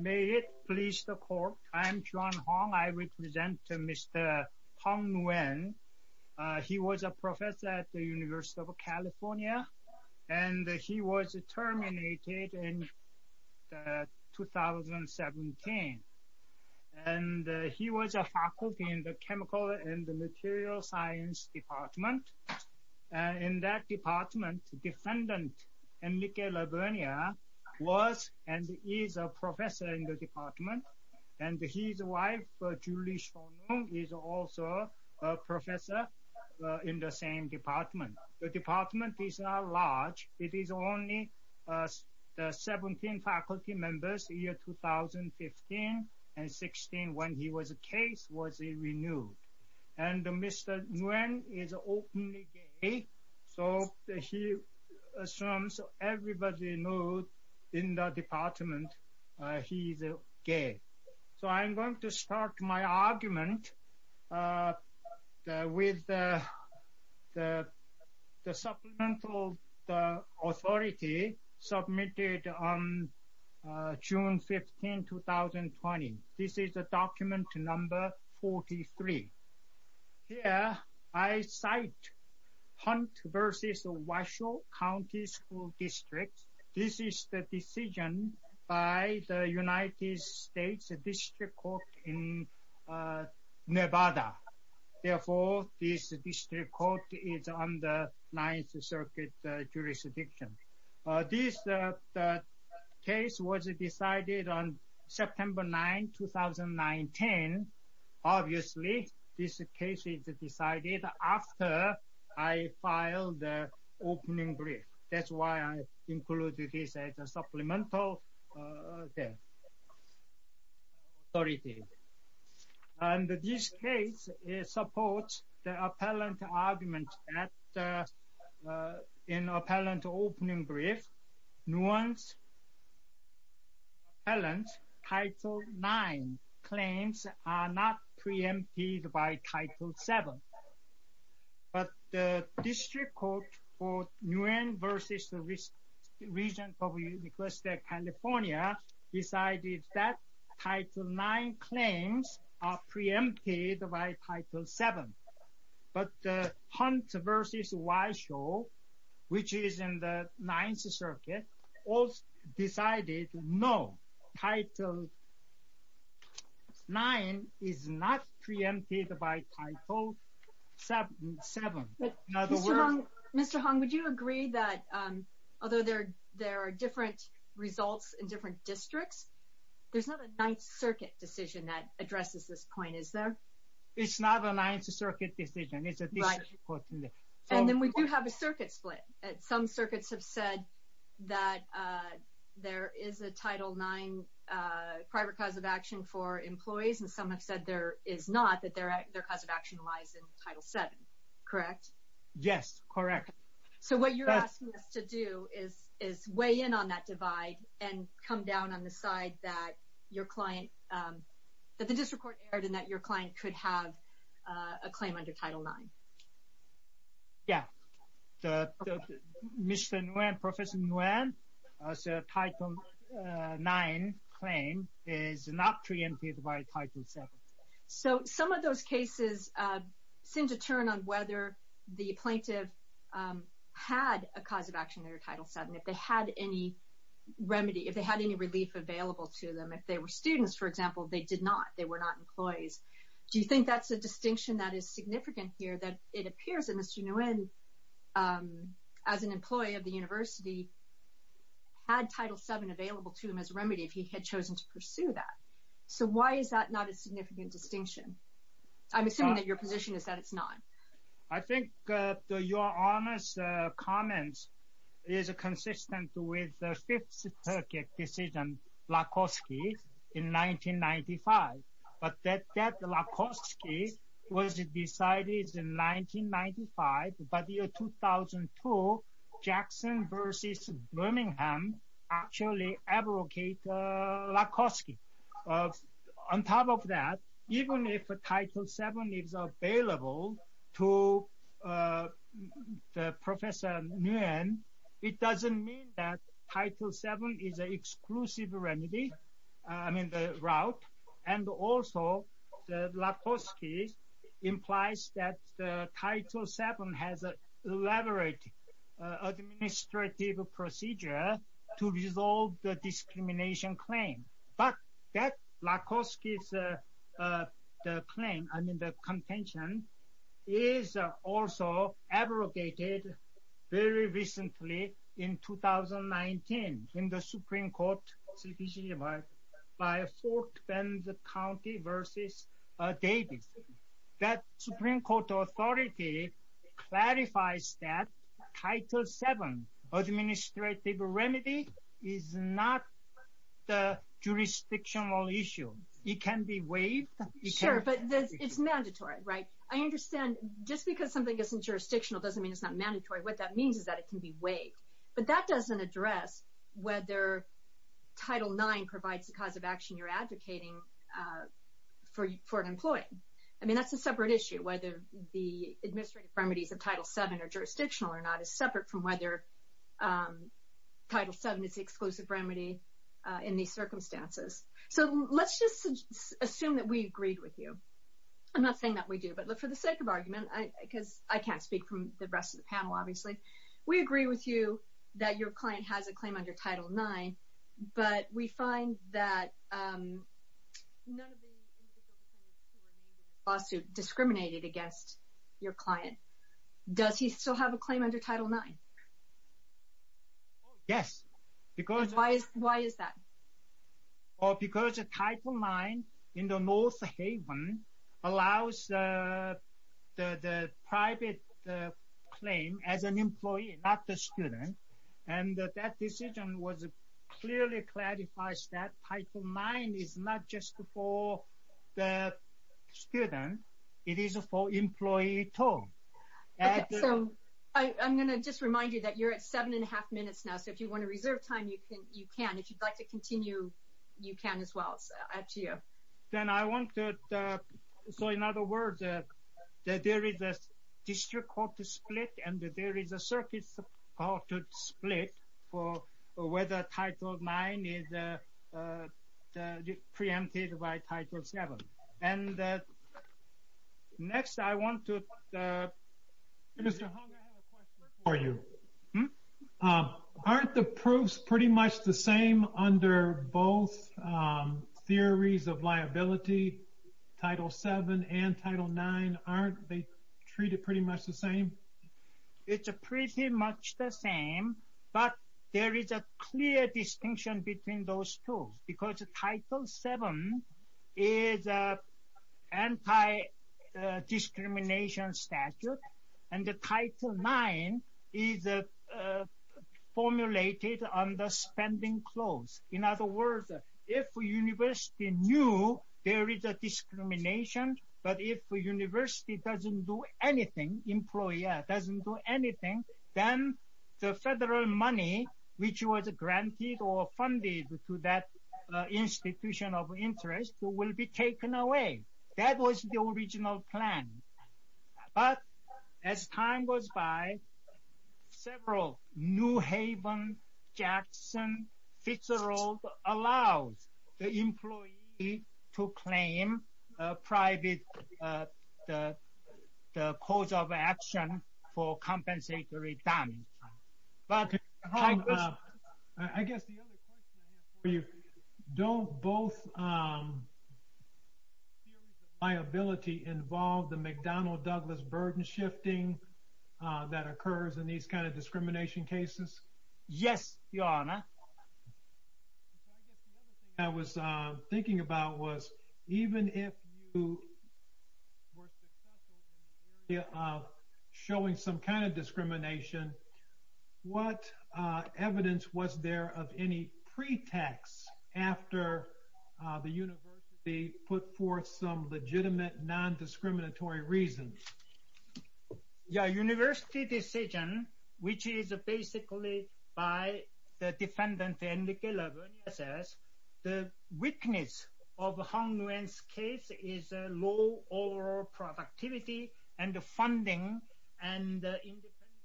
May it please the court. I'm John Hong. I represent Mr. Phong Nguyen. He was a professor at the University of California and he was terminated in 2017 and he was a faculty in the chemical and the material science department and in that department defendant Enrique Labrena was and is a professor in the department and his wife Julie Shonung is also a professor in the same department. The department is not large. It is only 17 faculty members year 2015 and 2016 when he was a case was he renewed and Mr. Nguyen is openly gay so he assumes everybody knows in the department he's gay. So I'm going to start my argument with the supplemental authority submitted on June 15, 2020. This is a document number 43. Here I cite Hunt v. Washoe County School District. This is the decision by the United States District Court in Nevada. Therefore this district court is on the 9th Circuit jurisdiction. This case was decided on September 9, 2019. Obviously this case is decided after I filed the opening brief. That's why I included this as a supplemental authority. And this case supports the appellant argument that in appellant opening brief nuance appellant title 9 claims are not preempted by title 7. But the district court for Nguyen v. Regents of University of California decided that title 9 claims are preempted by title 7. But the Hunt v. Washoe which is in the 9th Circuit also decided no title 9 is not preempted by title 7. Mr. Hung would you agree that although there are different results in different districts there's not a 9th Circuit decision that addresses this point is there? It's not a 9th Circuit decision. And then we do have a district court in Nevada. The 9th Circuit has said that there is a title 9 private cause of action for employees and some have said there is not that their cause of action lies in title 7. Correct? Yes, correct. So what you're asking us to do is is weigh in on that divide and come down on the side that your client that the district court and that your client could have a claim under title 9. Yeah. Mr. Nguyen, Professor Nguyen, title 9 claim is not preempted by title 7. So some of those cases seem to turn on whether the plaintiff had a cause of action under title 7. If they had any remedy, if they had any relief available to them, if they were students for not employees. Do you think that's a distinction that is significant here that it appears that Mr. Nguyen as an employee of the University had title 7 available to him as remedy if he had chosen to pursue that. So why is that not a significant distinction? I'm assuming that your position is that it's not. I think your Honest comments is consistent with the 5th Circuit decision Lakoski in 1995. But that Lakoski was decided in 1995, but in 2002 Jackson versus Birmingham actually abrogated Lakoski. On top of that, even if a title 7 is available to Professor Nguyen, it doesn't mean that title 7 is an exclusive remedy, I mean the route, and also the Lakoski implies that title 7 has an elaborate administrative procedure to resolve the discrimination claim. But that Lakoski's claim, I mean the contention, is also abrogated very by Fort Bend County versus Davis. That Supreme Court authority clarifies that title 7 administrative remedy is not the jurisdictional issue. It can be waived. Sure, but it's mandatory, right? I understand just because something isn't jurisdictional doesn't mean it's not mandatory. What that means is that it can be waived. But that doesn't address whether title 9 provides the cause of action you're advocating for an employee. I mean that's a separate issue, whether the administrative remedies of title 7 are jurisdictional or not is separate from whether title 7 is the exclusive remedy in these circumstances. So let's just assume that we agreed with you. I'm not saying that we do, but for the sake of argument, because I can't speak from the rest of the panel obviously, we agree with you that your client has a claim under title 9, but we find that none of the individual defendants who were named in this lawsuit discriminated against your client. Does he still have a claim under title 9? Yes, because... Why is that? Because a title 9 in the North Haven allows the private claim as an employee, not the student, and that decision clearly clarifies that title 9 is not just for the student, it is for employee too. I'm going to just remind you that you're at seven and a half minutes now, so if you want to reserve time, you can. If you'd like to So in other words, there is a district court to split and there is a circuit court to split for whether title 9 is preempted by title 7. And next I want to... Mr. Hong, I have a question for you. Aren't the proofs pretty much the same under both theories of liability, title 7 and title 9? Aren't they treated pretty much the same? It's pretty much the same, but there is a clear distinction between those two because title 7 is an anti-discrimination statute and the title 9 is formulated under spending clause. In other words, if a university knew there is a discrimination, but if a university doesn't do anything, employer doesn't do anything, then the federal money which was granted or funded to that institution of interest will be taken away. That was the original plan. But as time goes by, several New Haven, Jackson, Fitzgerald allows the employee to claim private cause of action for compensatory damage. But I guess the other question I have for you, don't both theories of liability involve the McDonnell-Douglas burden shifting that occurs in these kinds of discrimination cases? Yes, Your Honor. I was thinking about was even if you were successful in showing some kind of discrimination, what evidence was there of any pretext after the university put forth some legitimate non-discriminatory reasons? Yeah, university decision, which is basically by the defendant, Andrew Gillibrand, says the weakness of Hong Nguyen's case is low overall productivity and funding and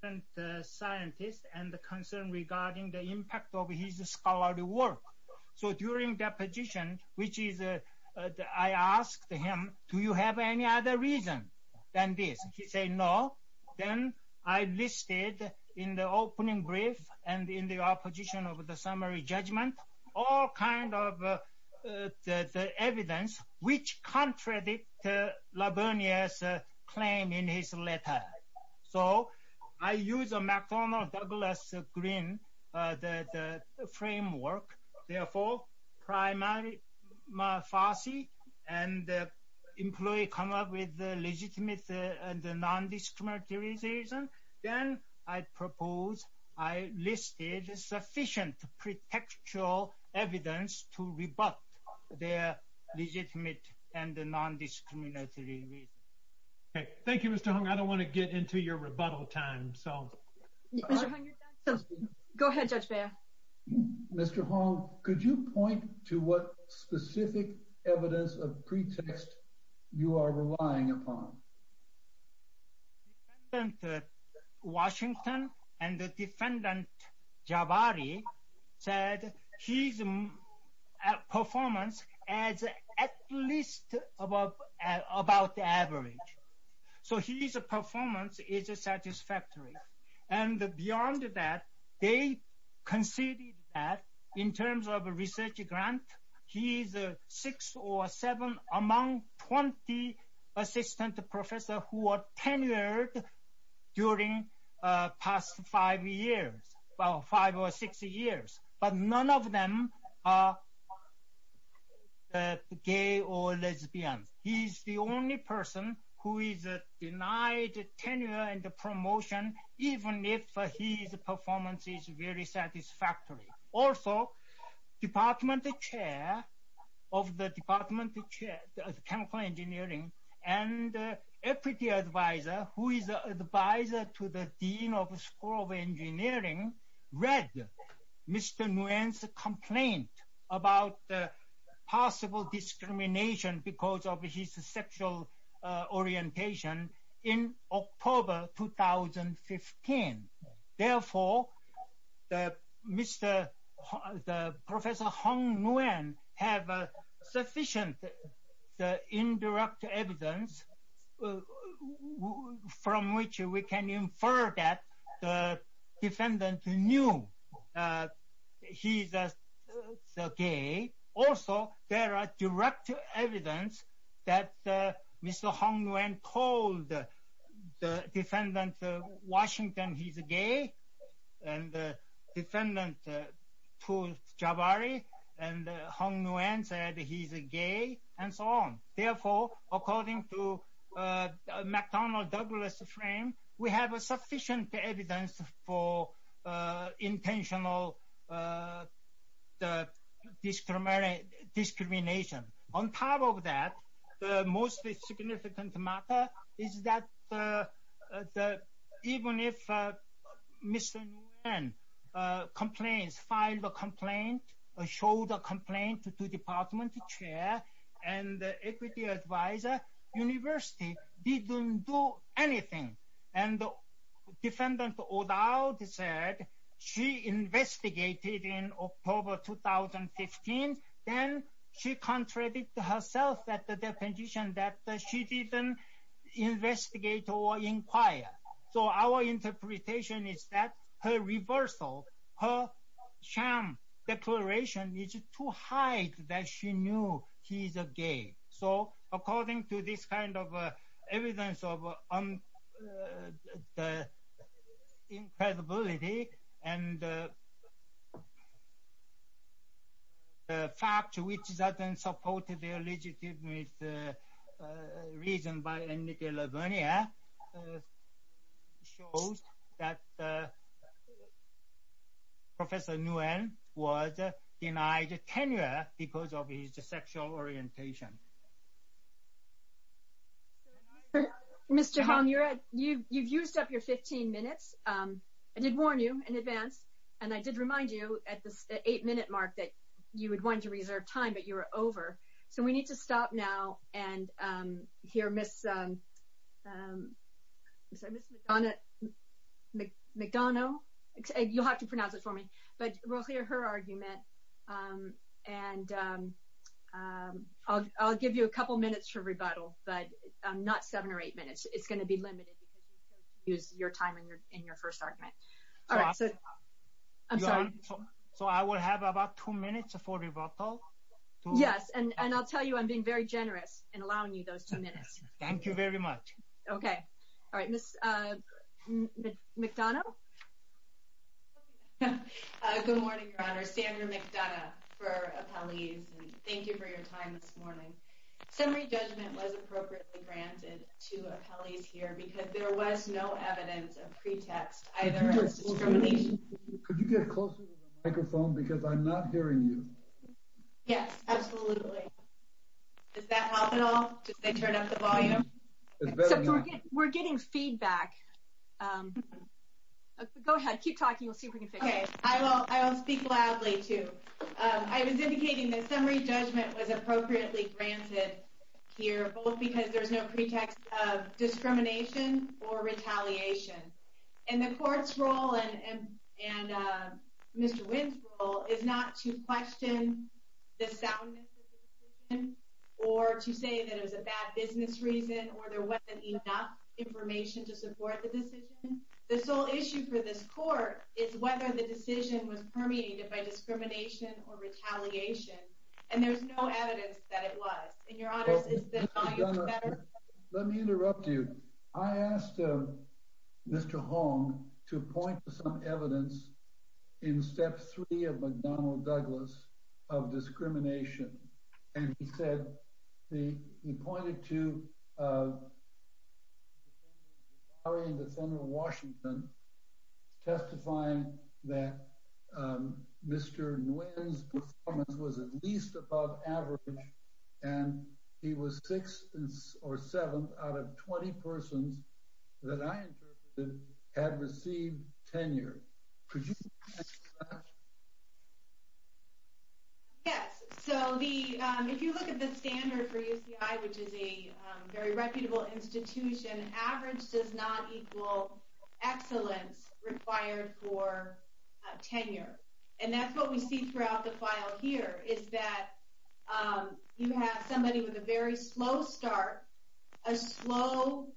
independent scientists and the concern regarding the impact of his scholarly work. So during deposition, which is, I asked him, do you have any other reason than this? He said no. Then I listed in the opening brief and in the opposition of the summary judgment, all kinds of evidence which contradict Labernier's claim in his letter. So I use a McDonnell-Douglas green, the framework, therefore, primarily Farsi and the employee come up with the legitimate and non-discriminatory reason. Then I propose I listed sufficient pretextual evidence to discriminatory reason. Thank you, Mr. Hong. I don't want to get into your rebuttal time, so. Go ahead, Judge Beyer. Mr. Hong, could you point to what specific evidence of pretext you are relying upon? The defendant, Washington, and the defendant, Jabari, said his performance is at least above, about average. So his performance is satisfactory. And beyond that, they conceded that in terms of a research grant, he's six or seven among 20 assistant professors who are tenured during past five years, well, five or six years, but none of them are gay or lesbian. He's the only person who is denied tenure and promotion, even if his performance is very satisfactory. Also, department chair of the department of chemical engineering and equity advisor, who is advisor to the dean of the school of engineering, read Mr. Nguyen's complaint about possible discrimination because of his sexual orientation in October 2015. Therefore, Professor Hong Nguyen has sufficient indirect evidence from which we can infer that the defendant knew he's gay. Also, there are direct evidence that Mr. Hong Nguyen told the defendant, Washington, he's gay, and the defendant told Jabari, and Hong Nguyen said he's gay, and so on. Therefore, according to McDonald-Douglas frame, we have sufficient evidence for intentional discrimination. On top of that, the most significant matter is that even if Mr. Nguyen complains, filed a complaint, showed a complaint to department chair and equity advisor, university didn't do anything, and defendant O'Dowd said she investigated in October 2015, then she contradicted herself at the deposition that she didn't investigate or inquire. So, our interpretation is that her reversal, her sham declaration is too high that she knew he's a gay. So, according to this kind of evidence of the incredibility and the fact which is often supported the legitimate reason by Nicola Vernier shows that Professor Nguyen was denied tenure because of his sexual orientation. Mr. Hong, you've used up your 15 minutes. I did warn you in advance, and I did remind you at the time. We need to stop now and hear Ms. McDonough. You'll have to pronounce it for me, but we'll hear her argument, and I'll give you a couple minutes for rebuttal, but not seven or eight minutes. It's going to be limited because you used your time in your first argument. So, I will have about two minutes for rebuttal? Yes, and I'll tell you I'm being very generous in allowing you those two minutes. Thank you very much. Okay. All right. Ms. McDonough? Good morning, Your Honor. Sandra McDonough for appellees, and thank you for your time this morning. Summary judgment was appropriately granted to appellees here because there was no evidence of pretext either as discrimination. Could you get closer to the microphone because I'm not hearing you. Yes, absolutely. Does that help at all? Did they turn up the volume? We're getting feedback. Go ahead. Keep talking. We'll see if we can fix it. Okay. I will speak loudly, too. I was indicating that summary judgment was appropriately granted here, both because there's no pretext of discrimination or retaliation, and the Court's is not to question the soundness of the decision or to say that it was a bad business reason or there wasn't enough information to support the decision. The sole issue for this Court is whether the decision was permeated by discrimination or retaliation, and there's no evidence that it was. And, Your Honors, is the volume better? Let me interrupt you. I asked Mr. Hong to point to some evidence in Step 3 of McDonough-Douglas of discrimination, and he said, he pointed to the Attorney General of Washington testifying that Mr. Nguyen's performance was at least above average, and he was sixth or seventh out of 20 persons that I interpreted had received tenure. Yes. So, if you look at the standard for UCI, which is a very reputable institution, average does not equal excellence required for tenure. And that's what we see throughout the You have somebody with a very slow start, a slow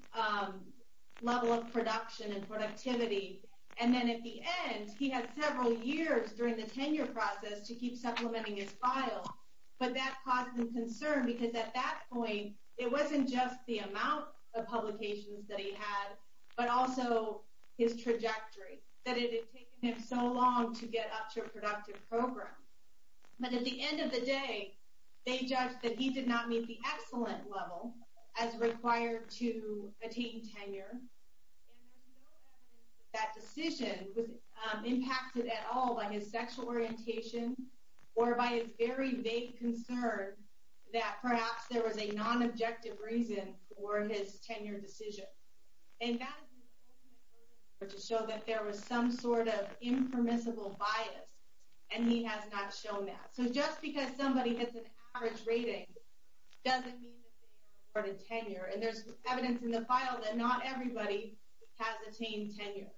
level of production and productivity, and then at the end, he had several years during the tenure process to keep supplementing his file, but that caused him concern, because at that point, it wasn't just the amount of publications that he had, but also his trajectory, that it had taken him so long to get up to a productive program. But at the end of the day, they judged that he did not meet the excellent level as required to attain tenure, and there's no evidence that that decision was impacted at all by his sexual orientation, or by his very vague concern that perhaps there was a non-objective reason for his tenure decision. And that is the ultimate argument to show that there was some sort of impermissible bias, and he has not shown that. So just because somebody gets an average rating doesn't mean that they are awarded tenure, and there's evidence in the file that not everybody has attained tenure.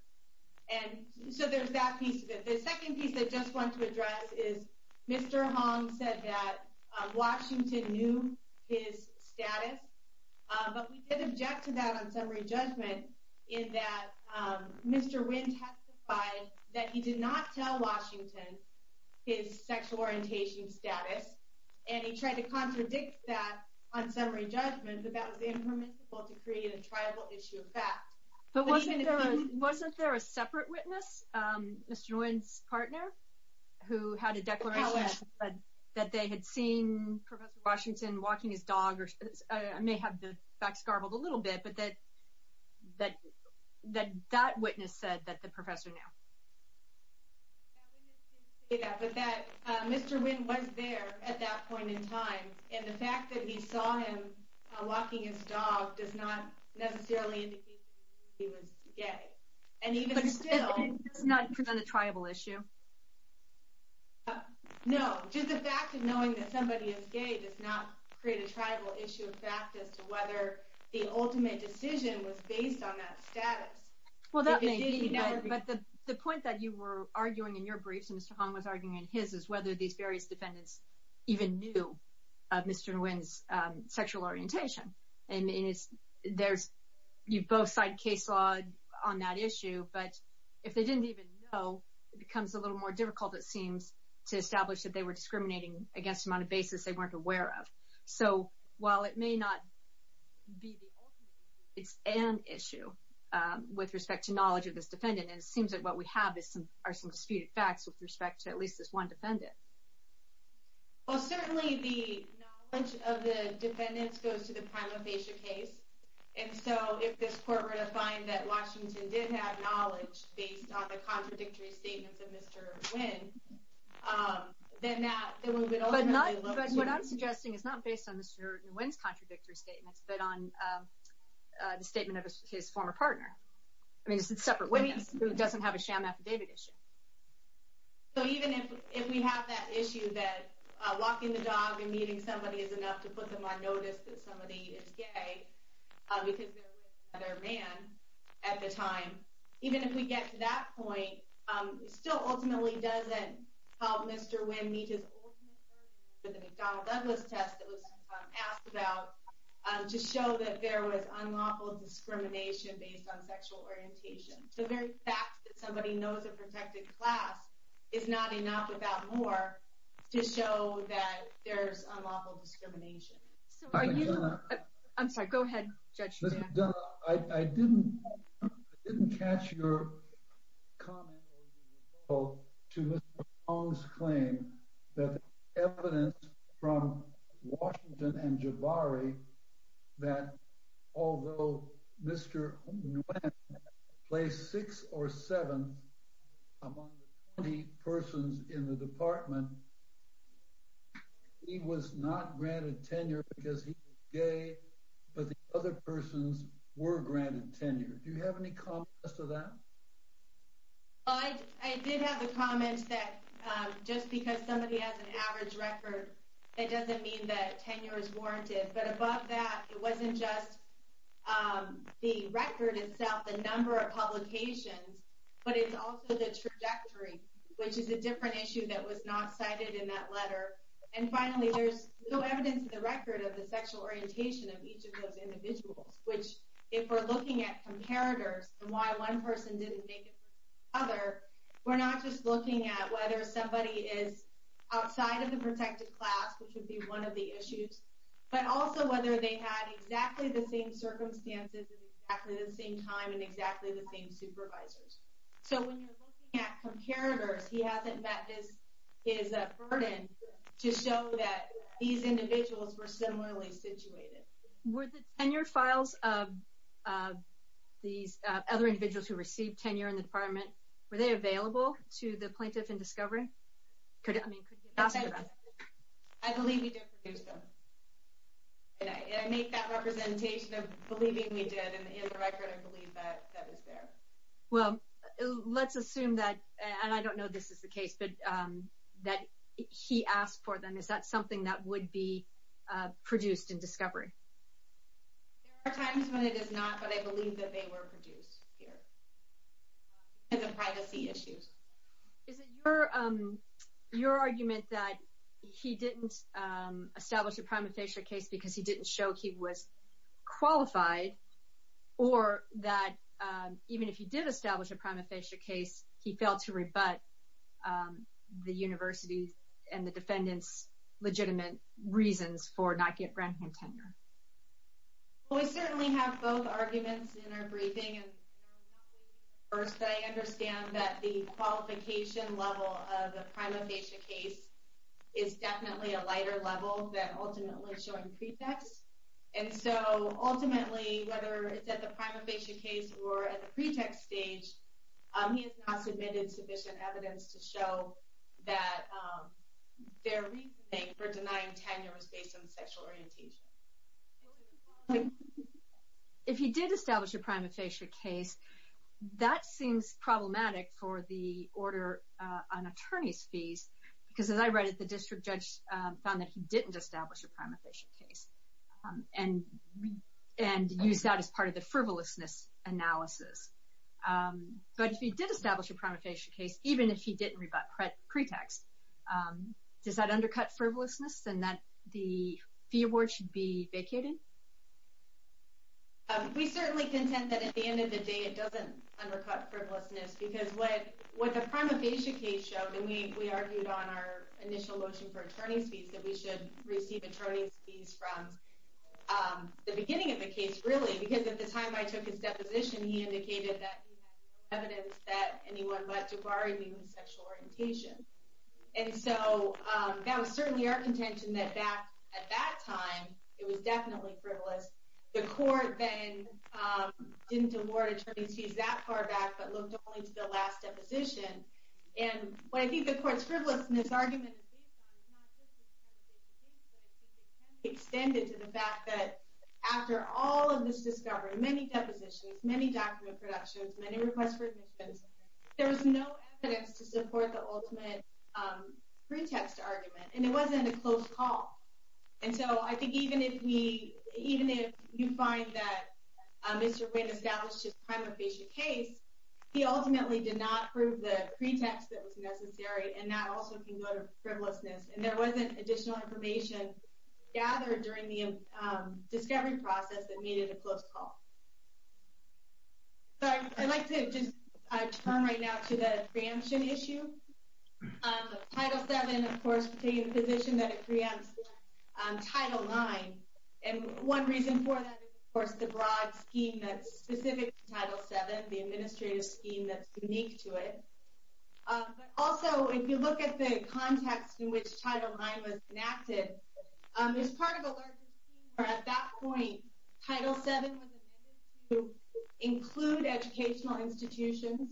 And so there's that piece. The second piece that I just want to address is Mr. Hong said that Washington knew his status, but we did object to that on summary judgment, in that Mr. Nguyen testified that he did not tell Washington his sexual orientation status, and he tried to contradict that on summary judgment, but that was impermissible to create a tribal issue of fact. But wasn't there a separate witness, Mr. Nguyen's partner, who had a declaration that they had seen Professor Washington walking his dog, or I may have the little bit, but that that witness said that the professor knew. That witness didn't say that, but that Mr. Nguyen was there at that point in time, and the fact that he saw him walking his dog does not necessarily indicate that he was gay. But it does not present a tribal issue? No, just the fact of knowing that somebody is gay does not create a tribal issue of fact as to the ultimate decision was based on that status. But the point that you were arguing in your briefs, and Mr. Hong was arguing in his, is whether these various defendants even knew Mr. Nguyen's sexual orientation. You both cite case law on that issue, but if they didn't even know, it becomes a little more difficult, it seems, to establish that they were discriminating against him on a basis they weren't aware of. So while it may not be the ultimate, it's an issue with respect to knowledge of this defendant, and it seems that what we have are some disputed facts with respect to at least this one defendant. Well, certainly the knowledge of the defendants goes to the primalphasia case, and so if this court were to find that Washington did have knowledge based on the contradictory statements of Mr. Nguyen, then that, then we would ultimately look to... But what I'm suggesting is not based on Mr. Nguyen's contradictory statements, but on the statement of his former partner. I mean, it's a separate witness who doesn't have a sham affidavit issue. So even if we have that issue that walking the dog and meeting somebody is enough to put them on notice that somebody is gay, because they're with another man at the time, even if we get to that point, it still ultimately doesn't help Mr. Nguyen meet his ultimate urge for the McDonnell-Douglas test that was asked about to show that there was unlawful discrimination based on sexual orientation. The very fact that somebody knows a protected class is not enough without more to show that there's unlawful discrimination. I'm sorry, go ahead, Judge. I didn't catch your comment to Mr. Nguyen's claim that evidence from Washington and Jabari that although Mr. Nguyen placed sixth or seventh among the 20 persons in the department, he was not granted tenure because he was gay, but the other persons were granted tenure. Do you have any comments to that? I did have a comment that just because somebody has an average record, it doesn't mean that tenure is warranted. But above that, it wasn't just the record itself, the number of publications, but it's also the trajectory, which is a different issue that was not cited in that letter. And finally, there's no evidence in the record of the sexual orientation of each of those individuals, which if we're looking at comparators and why one person didn't make it to the other, we're not just looking at whether somebody is outside of the protected class, which would be one of the issues, but also whether they had exactly the same circumstances at exactly the same time and exactly the same supervisors. So when you're looking at comparators, he hasn't met his burden to show that these individuals were similarly situated. Were the tenure files of these other individuals who received tenure in the department, were they available to the plaintiff in discovery? I believe we did produce them. I make that representation of believing we did in the record and believe that that is there. Well, let's assume that, and I don't know this is the case, but that he asked for them. Is that something that would be produced in discovery? There are times when it is not, but I believe that they were produced here. Because of privacy issues. Is it your argument that he didn't establish a prima facie case because he didn't show he was qualified, or that even if he did establish a prima facie case, he failed to rebut the university and the defendant's legitimate reasons for not getting a grant for tenure? Well, we certainly have both arguments in our briefing, and I understand that the qualification level of the prima facie case is definitely a lighter level than ultimately showing pretext. And so ultimately, whether it's at the prima facie case or at the pretext stage, he has not submitted sufficient evidence to show that their reasoning for denying tenure was based on sexual orientation. If he did establish a prima facie case, that seems problematic for the order on attorney's fees, because as I read it, the district judge found that he didn't establish a prima facie case and used that as part of the frivolousness analysis. But if he did establish a prima facie case, even if he didn't rebut pretext, does that undercut frivolousness in that the fee award should be vacated? We certainly contend that at the end of the day, it doesn't undercut frivolousness because what the prima facie case showed, and we argued on our initial motion for attorney's fees, that we should receive attorney's fees from the beginning of the case, really, because at the time I took his deposition, he indicated that he had no evidence that anyone but Jabari needed sexual orientation. And so that was certainly our contention that back at that time, it was the last deposition. And what I think the court's frivolousness argument is based on is not just the prima facie case, but I think it can be extended to the fact that after all of this discovery, many depositions, many document productions, many requests for admissions, there was no evidence to support the ultimate pretext argument. And it wasn't a close call. And so I think even if you find that Mr. Wynn established his prima facie case, he ultimately did not prove the pretext that was necessary, and that also can go to frivolousness. And there wasn't additional information gathered during the discovery process that made it a close call. So I'd like to just turn right now to the preemption issue. Title VII, of course, taking the position that it preempts Title IX. And one reason for that is, of course, the broad scheme that's specific to Title VII, the administrative scheme that's unique to it. But also, if you look at the context in which Title IX was enacted, there's part of a larger scheme where at that point, Title VII was amended to include educational institutions.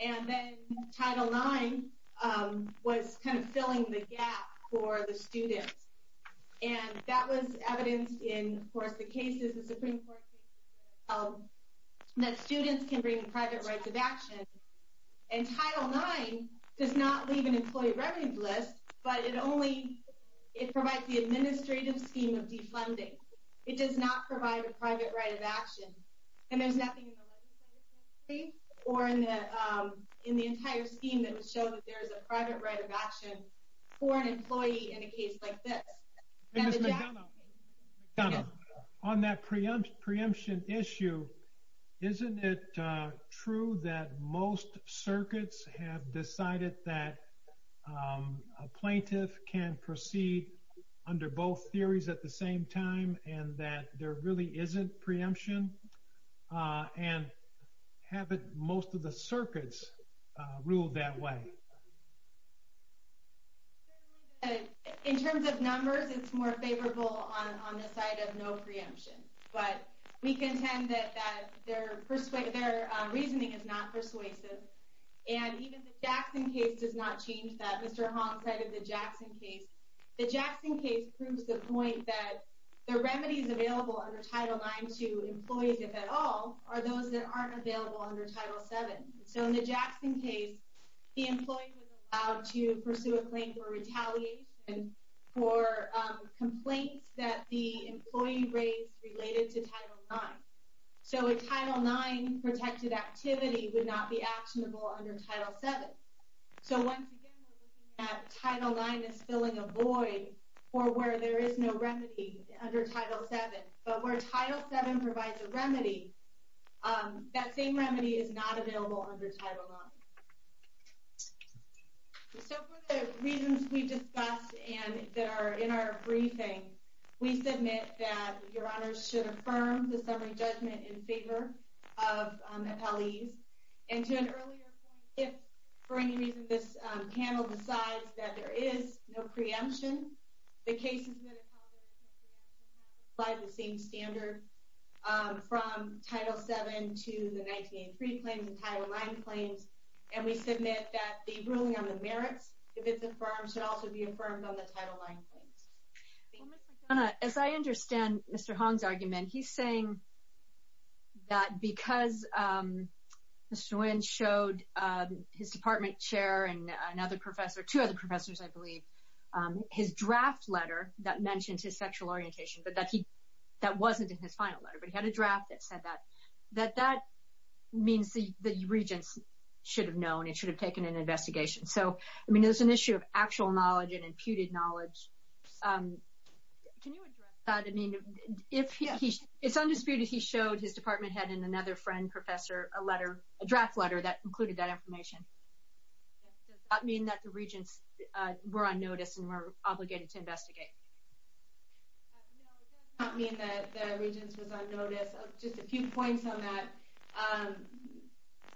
And then Title IX was filling the gap for the students. And that was evidenced in, of course, the cases, the Supreme Court cases, that students can bring private rights of action. And Title IX does not leave an employee revenue list, but it only provides the administrative scheme of defunding. It does not provide a private right of action. And there's nothing in the legislative scheme or in the entire scheme that would show that there is a private right of action for an employee in a case like this. And Mr. McDonough, on that preemption issue, isn't it true that most circuits have decided that a plaintiff can proceed under both theories at the same time, and that there really isn't a preemption, and haven't most of the circuits ruled that way? In terms of numbers, it's more favorable on the side of no preemption. But we contend that their reasoning is not persuasive. And even the Jackson case does not change that. Mr. Hong cited the Jackson case. The Jackson case proves the point that the remedies available under Title IX to employees, if at all, are those that aren't available under Title VII. So in the Jackson case, the employee was allowed to pursue a claim for retaliation for complaints that the employee raised related to Title IX. So a Title IX-protected activity would not be actionable under Title VII. So once again, we're looking at Title IX as filling a void or where there is no remedy under Title VII. But where Title VII provides a remedy, that same remedy is not available under Title IX. So for the reasons we discussed and that are in our briefing, we submit that Your Honors should affirm the summary judgment in favor of appellees. And to an earlier point, if for any reason this reaction has applied the same standard from Title VII to the 1983 claims and Title IX claims, and we submit that the ruling on the merits, if it's affirmed, should also be affirmed on the Title IX claims. As I understand Mr. Hong's argument, he's saying that because Mr. Nguyen showed his department chair and another professor, two other professors, I believe, his draft letter that mentions his sexual orientation, but that wasn't in his final letter, but he had a draft that said that, that that means the regents should have known, it should have taken an investigation. So I mean, there's an issue of actual knowledge and imputed knowledge. Can you address that? I mean, it's undisputed he showed his department head and another friend professor a letter, a draft letter that included that information. Does that mean that the regents were on notice and were obligated to investigate? No, it does not mean that the regents was on notice. Just a few points on that.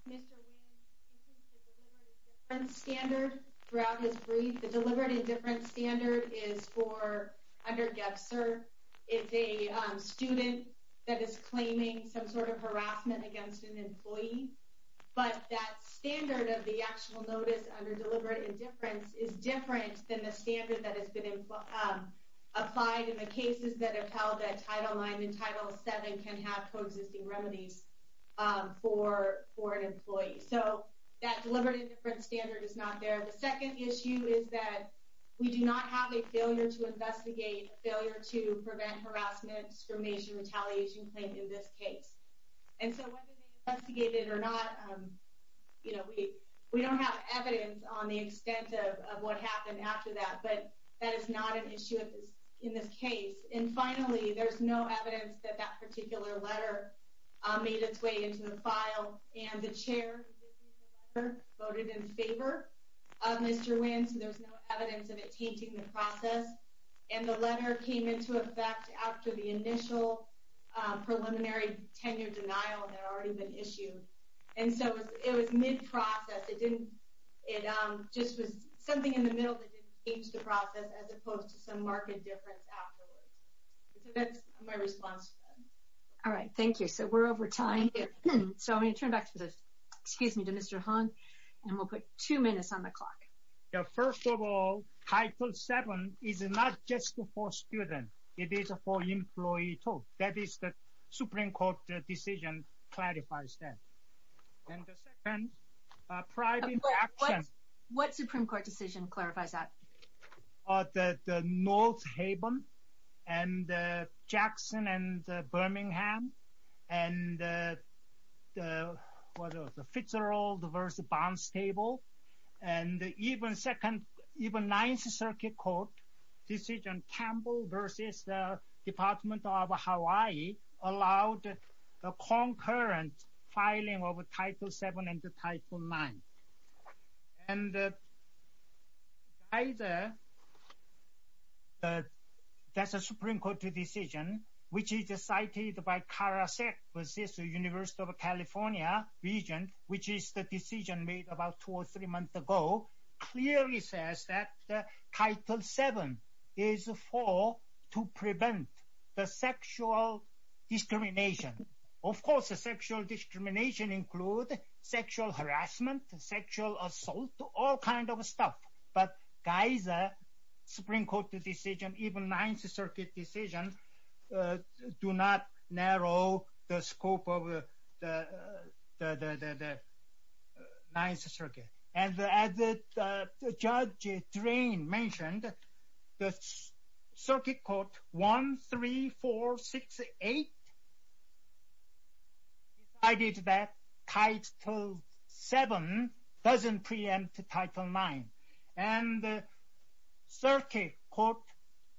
Mr. Nguyen includes a deliberate indifference standard throughout his brief. The deliberate indifference standard is for, under GFSR, it's a student that is claiming some sort of harassment against an employee, but that standard of the actual notice under deliberate indifference is different than the standard that has been applied in the cases that have held that Title IX and Title VII can have coexisting remedies for an employee. So that deliberate indifference standard is not there. The second issue is that we do not have a failure to investigate, failure to prevent harassment, discrimination, retaliation claim in this case. And so whether they investigated or not, we don't have evidence on the extent of what happened after that, but that is not an issue in this case. And finally, there's no evidence that that particular letter made its way into the file and the chair voted in favor of Mr. Nguyen, so there's no evidence of it maintaining the process. And the letter came into effect after the initial preliminary tenure denial that had already been issued. And so it was mid-process. It just was something in the middle that didn't change the process as opposed to some marked difference afterwards. So that's my response to that. All right, thank you. So we're over time. So I'm going to turn back to Mr. Han and we'll put two minutes on the clock. First of all, Title VII is not just for students. It is for employees too. That is the Supreme Court decision clarifies that. And the second private action. What Supreme Court decision clarifies that? The North Haven and Jackson and versus the bonds table. And even second, even Ninth Circuit Court decision Campbell versus the Department of Hawaii allowed the concurrent filing of a Title VII and the Title IX. And that's a Supreme Court decision, which is cited by CARA-SEC versus the University of California region, which is the decision made about two or three months ago, clearly says that the Title VII is for to prevent the sexual discrimination. Of course, the sexual discrimination include sexual harassment, sexual assault, all kinds of stuff. But Geiser Supreme Court decision, even Ninth Circuit decision, do not narrow the scope of the Ninth Circuit. And as Judge Drain mentioned, the Circuit Court 13468 decided that Title VII doesn't preempt Title IX. And Circuit Court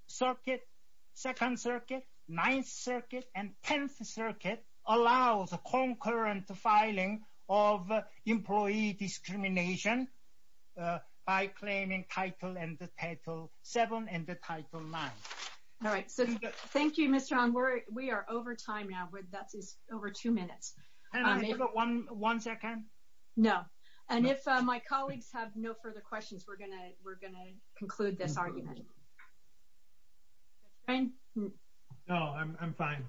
Circuit, Second Circuit, Ninth Circuit, and Tenth Circuit allows a concurrent filing of employee discrimination by claiming Title VII and the Title IX. All right. So thank you, Mr. Anwar. We are over time now. That's over two minutes. One second. No. And if my colleagues have no further questions, we're going to conclude this argument. Judge Drain? No, I'm fine.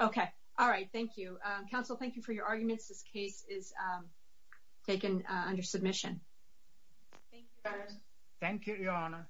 Okay. All right. Thank you. Counsel, thank you for your arguments. This case is taken under submission. Thank you. Thank you, Your Honor.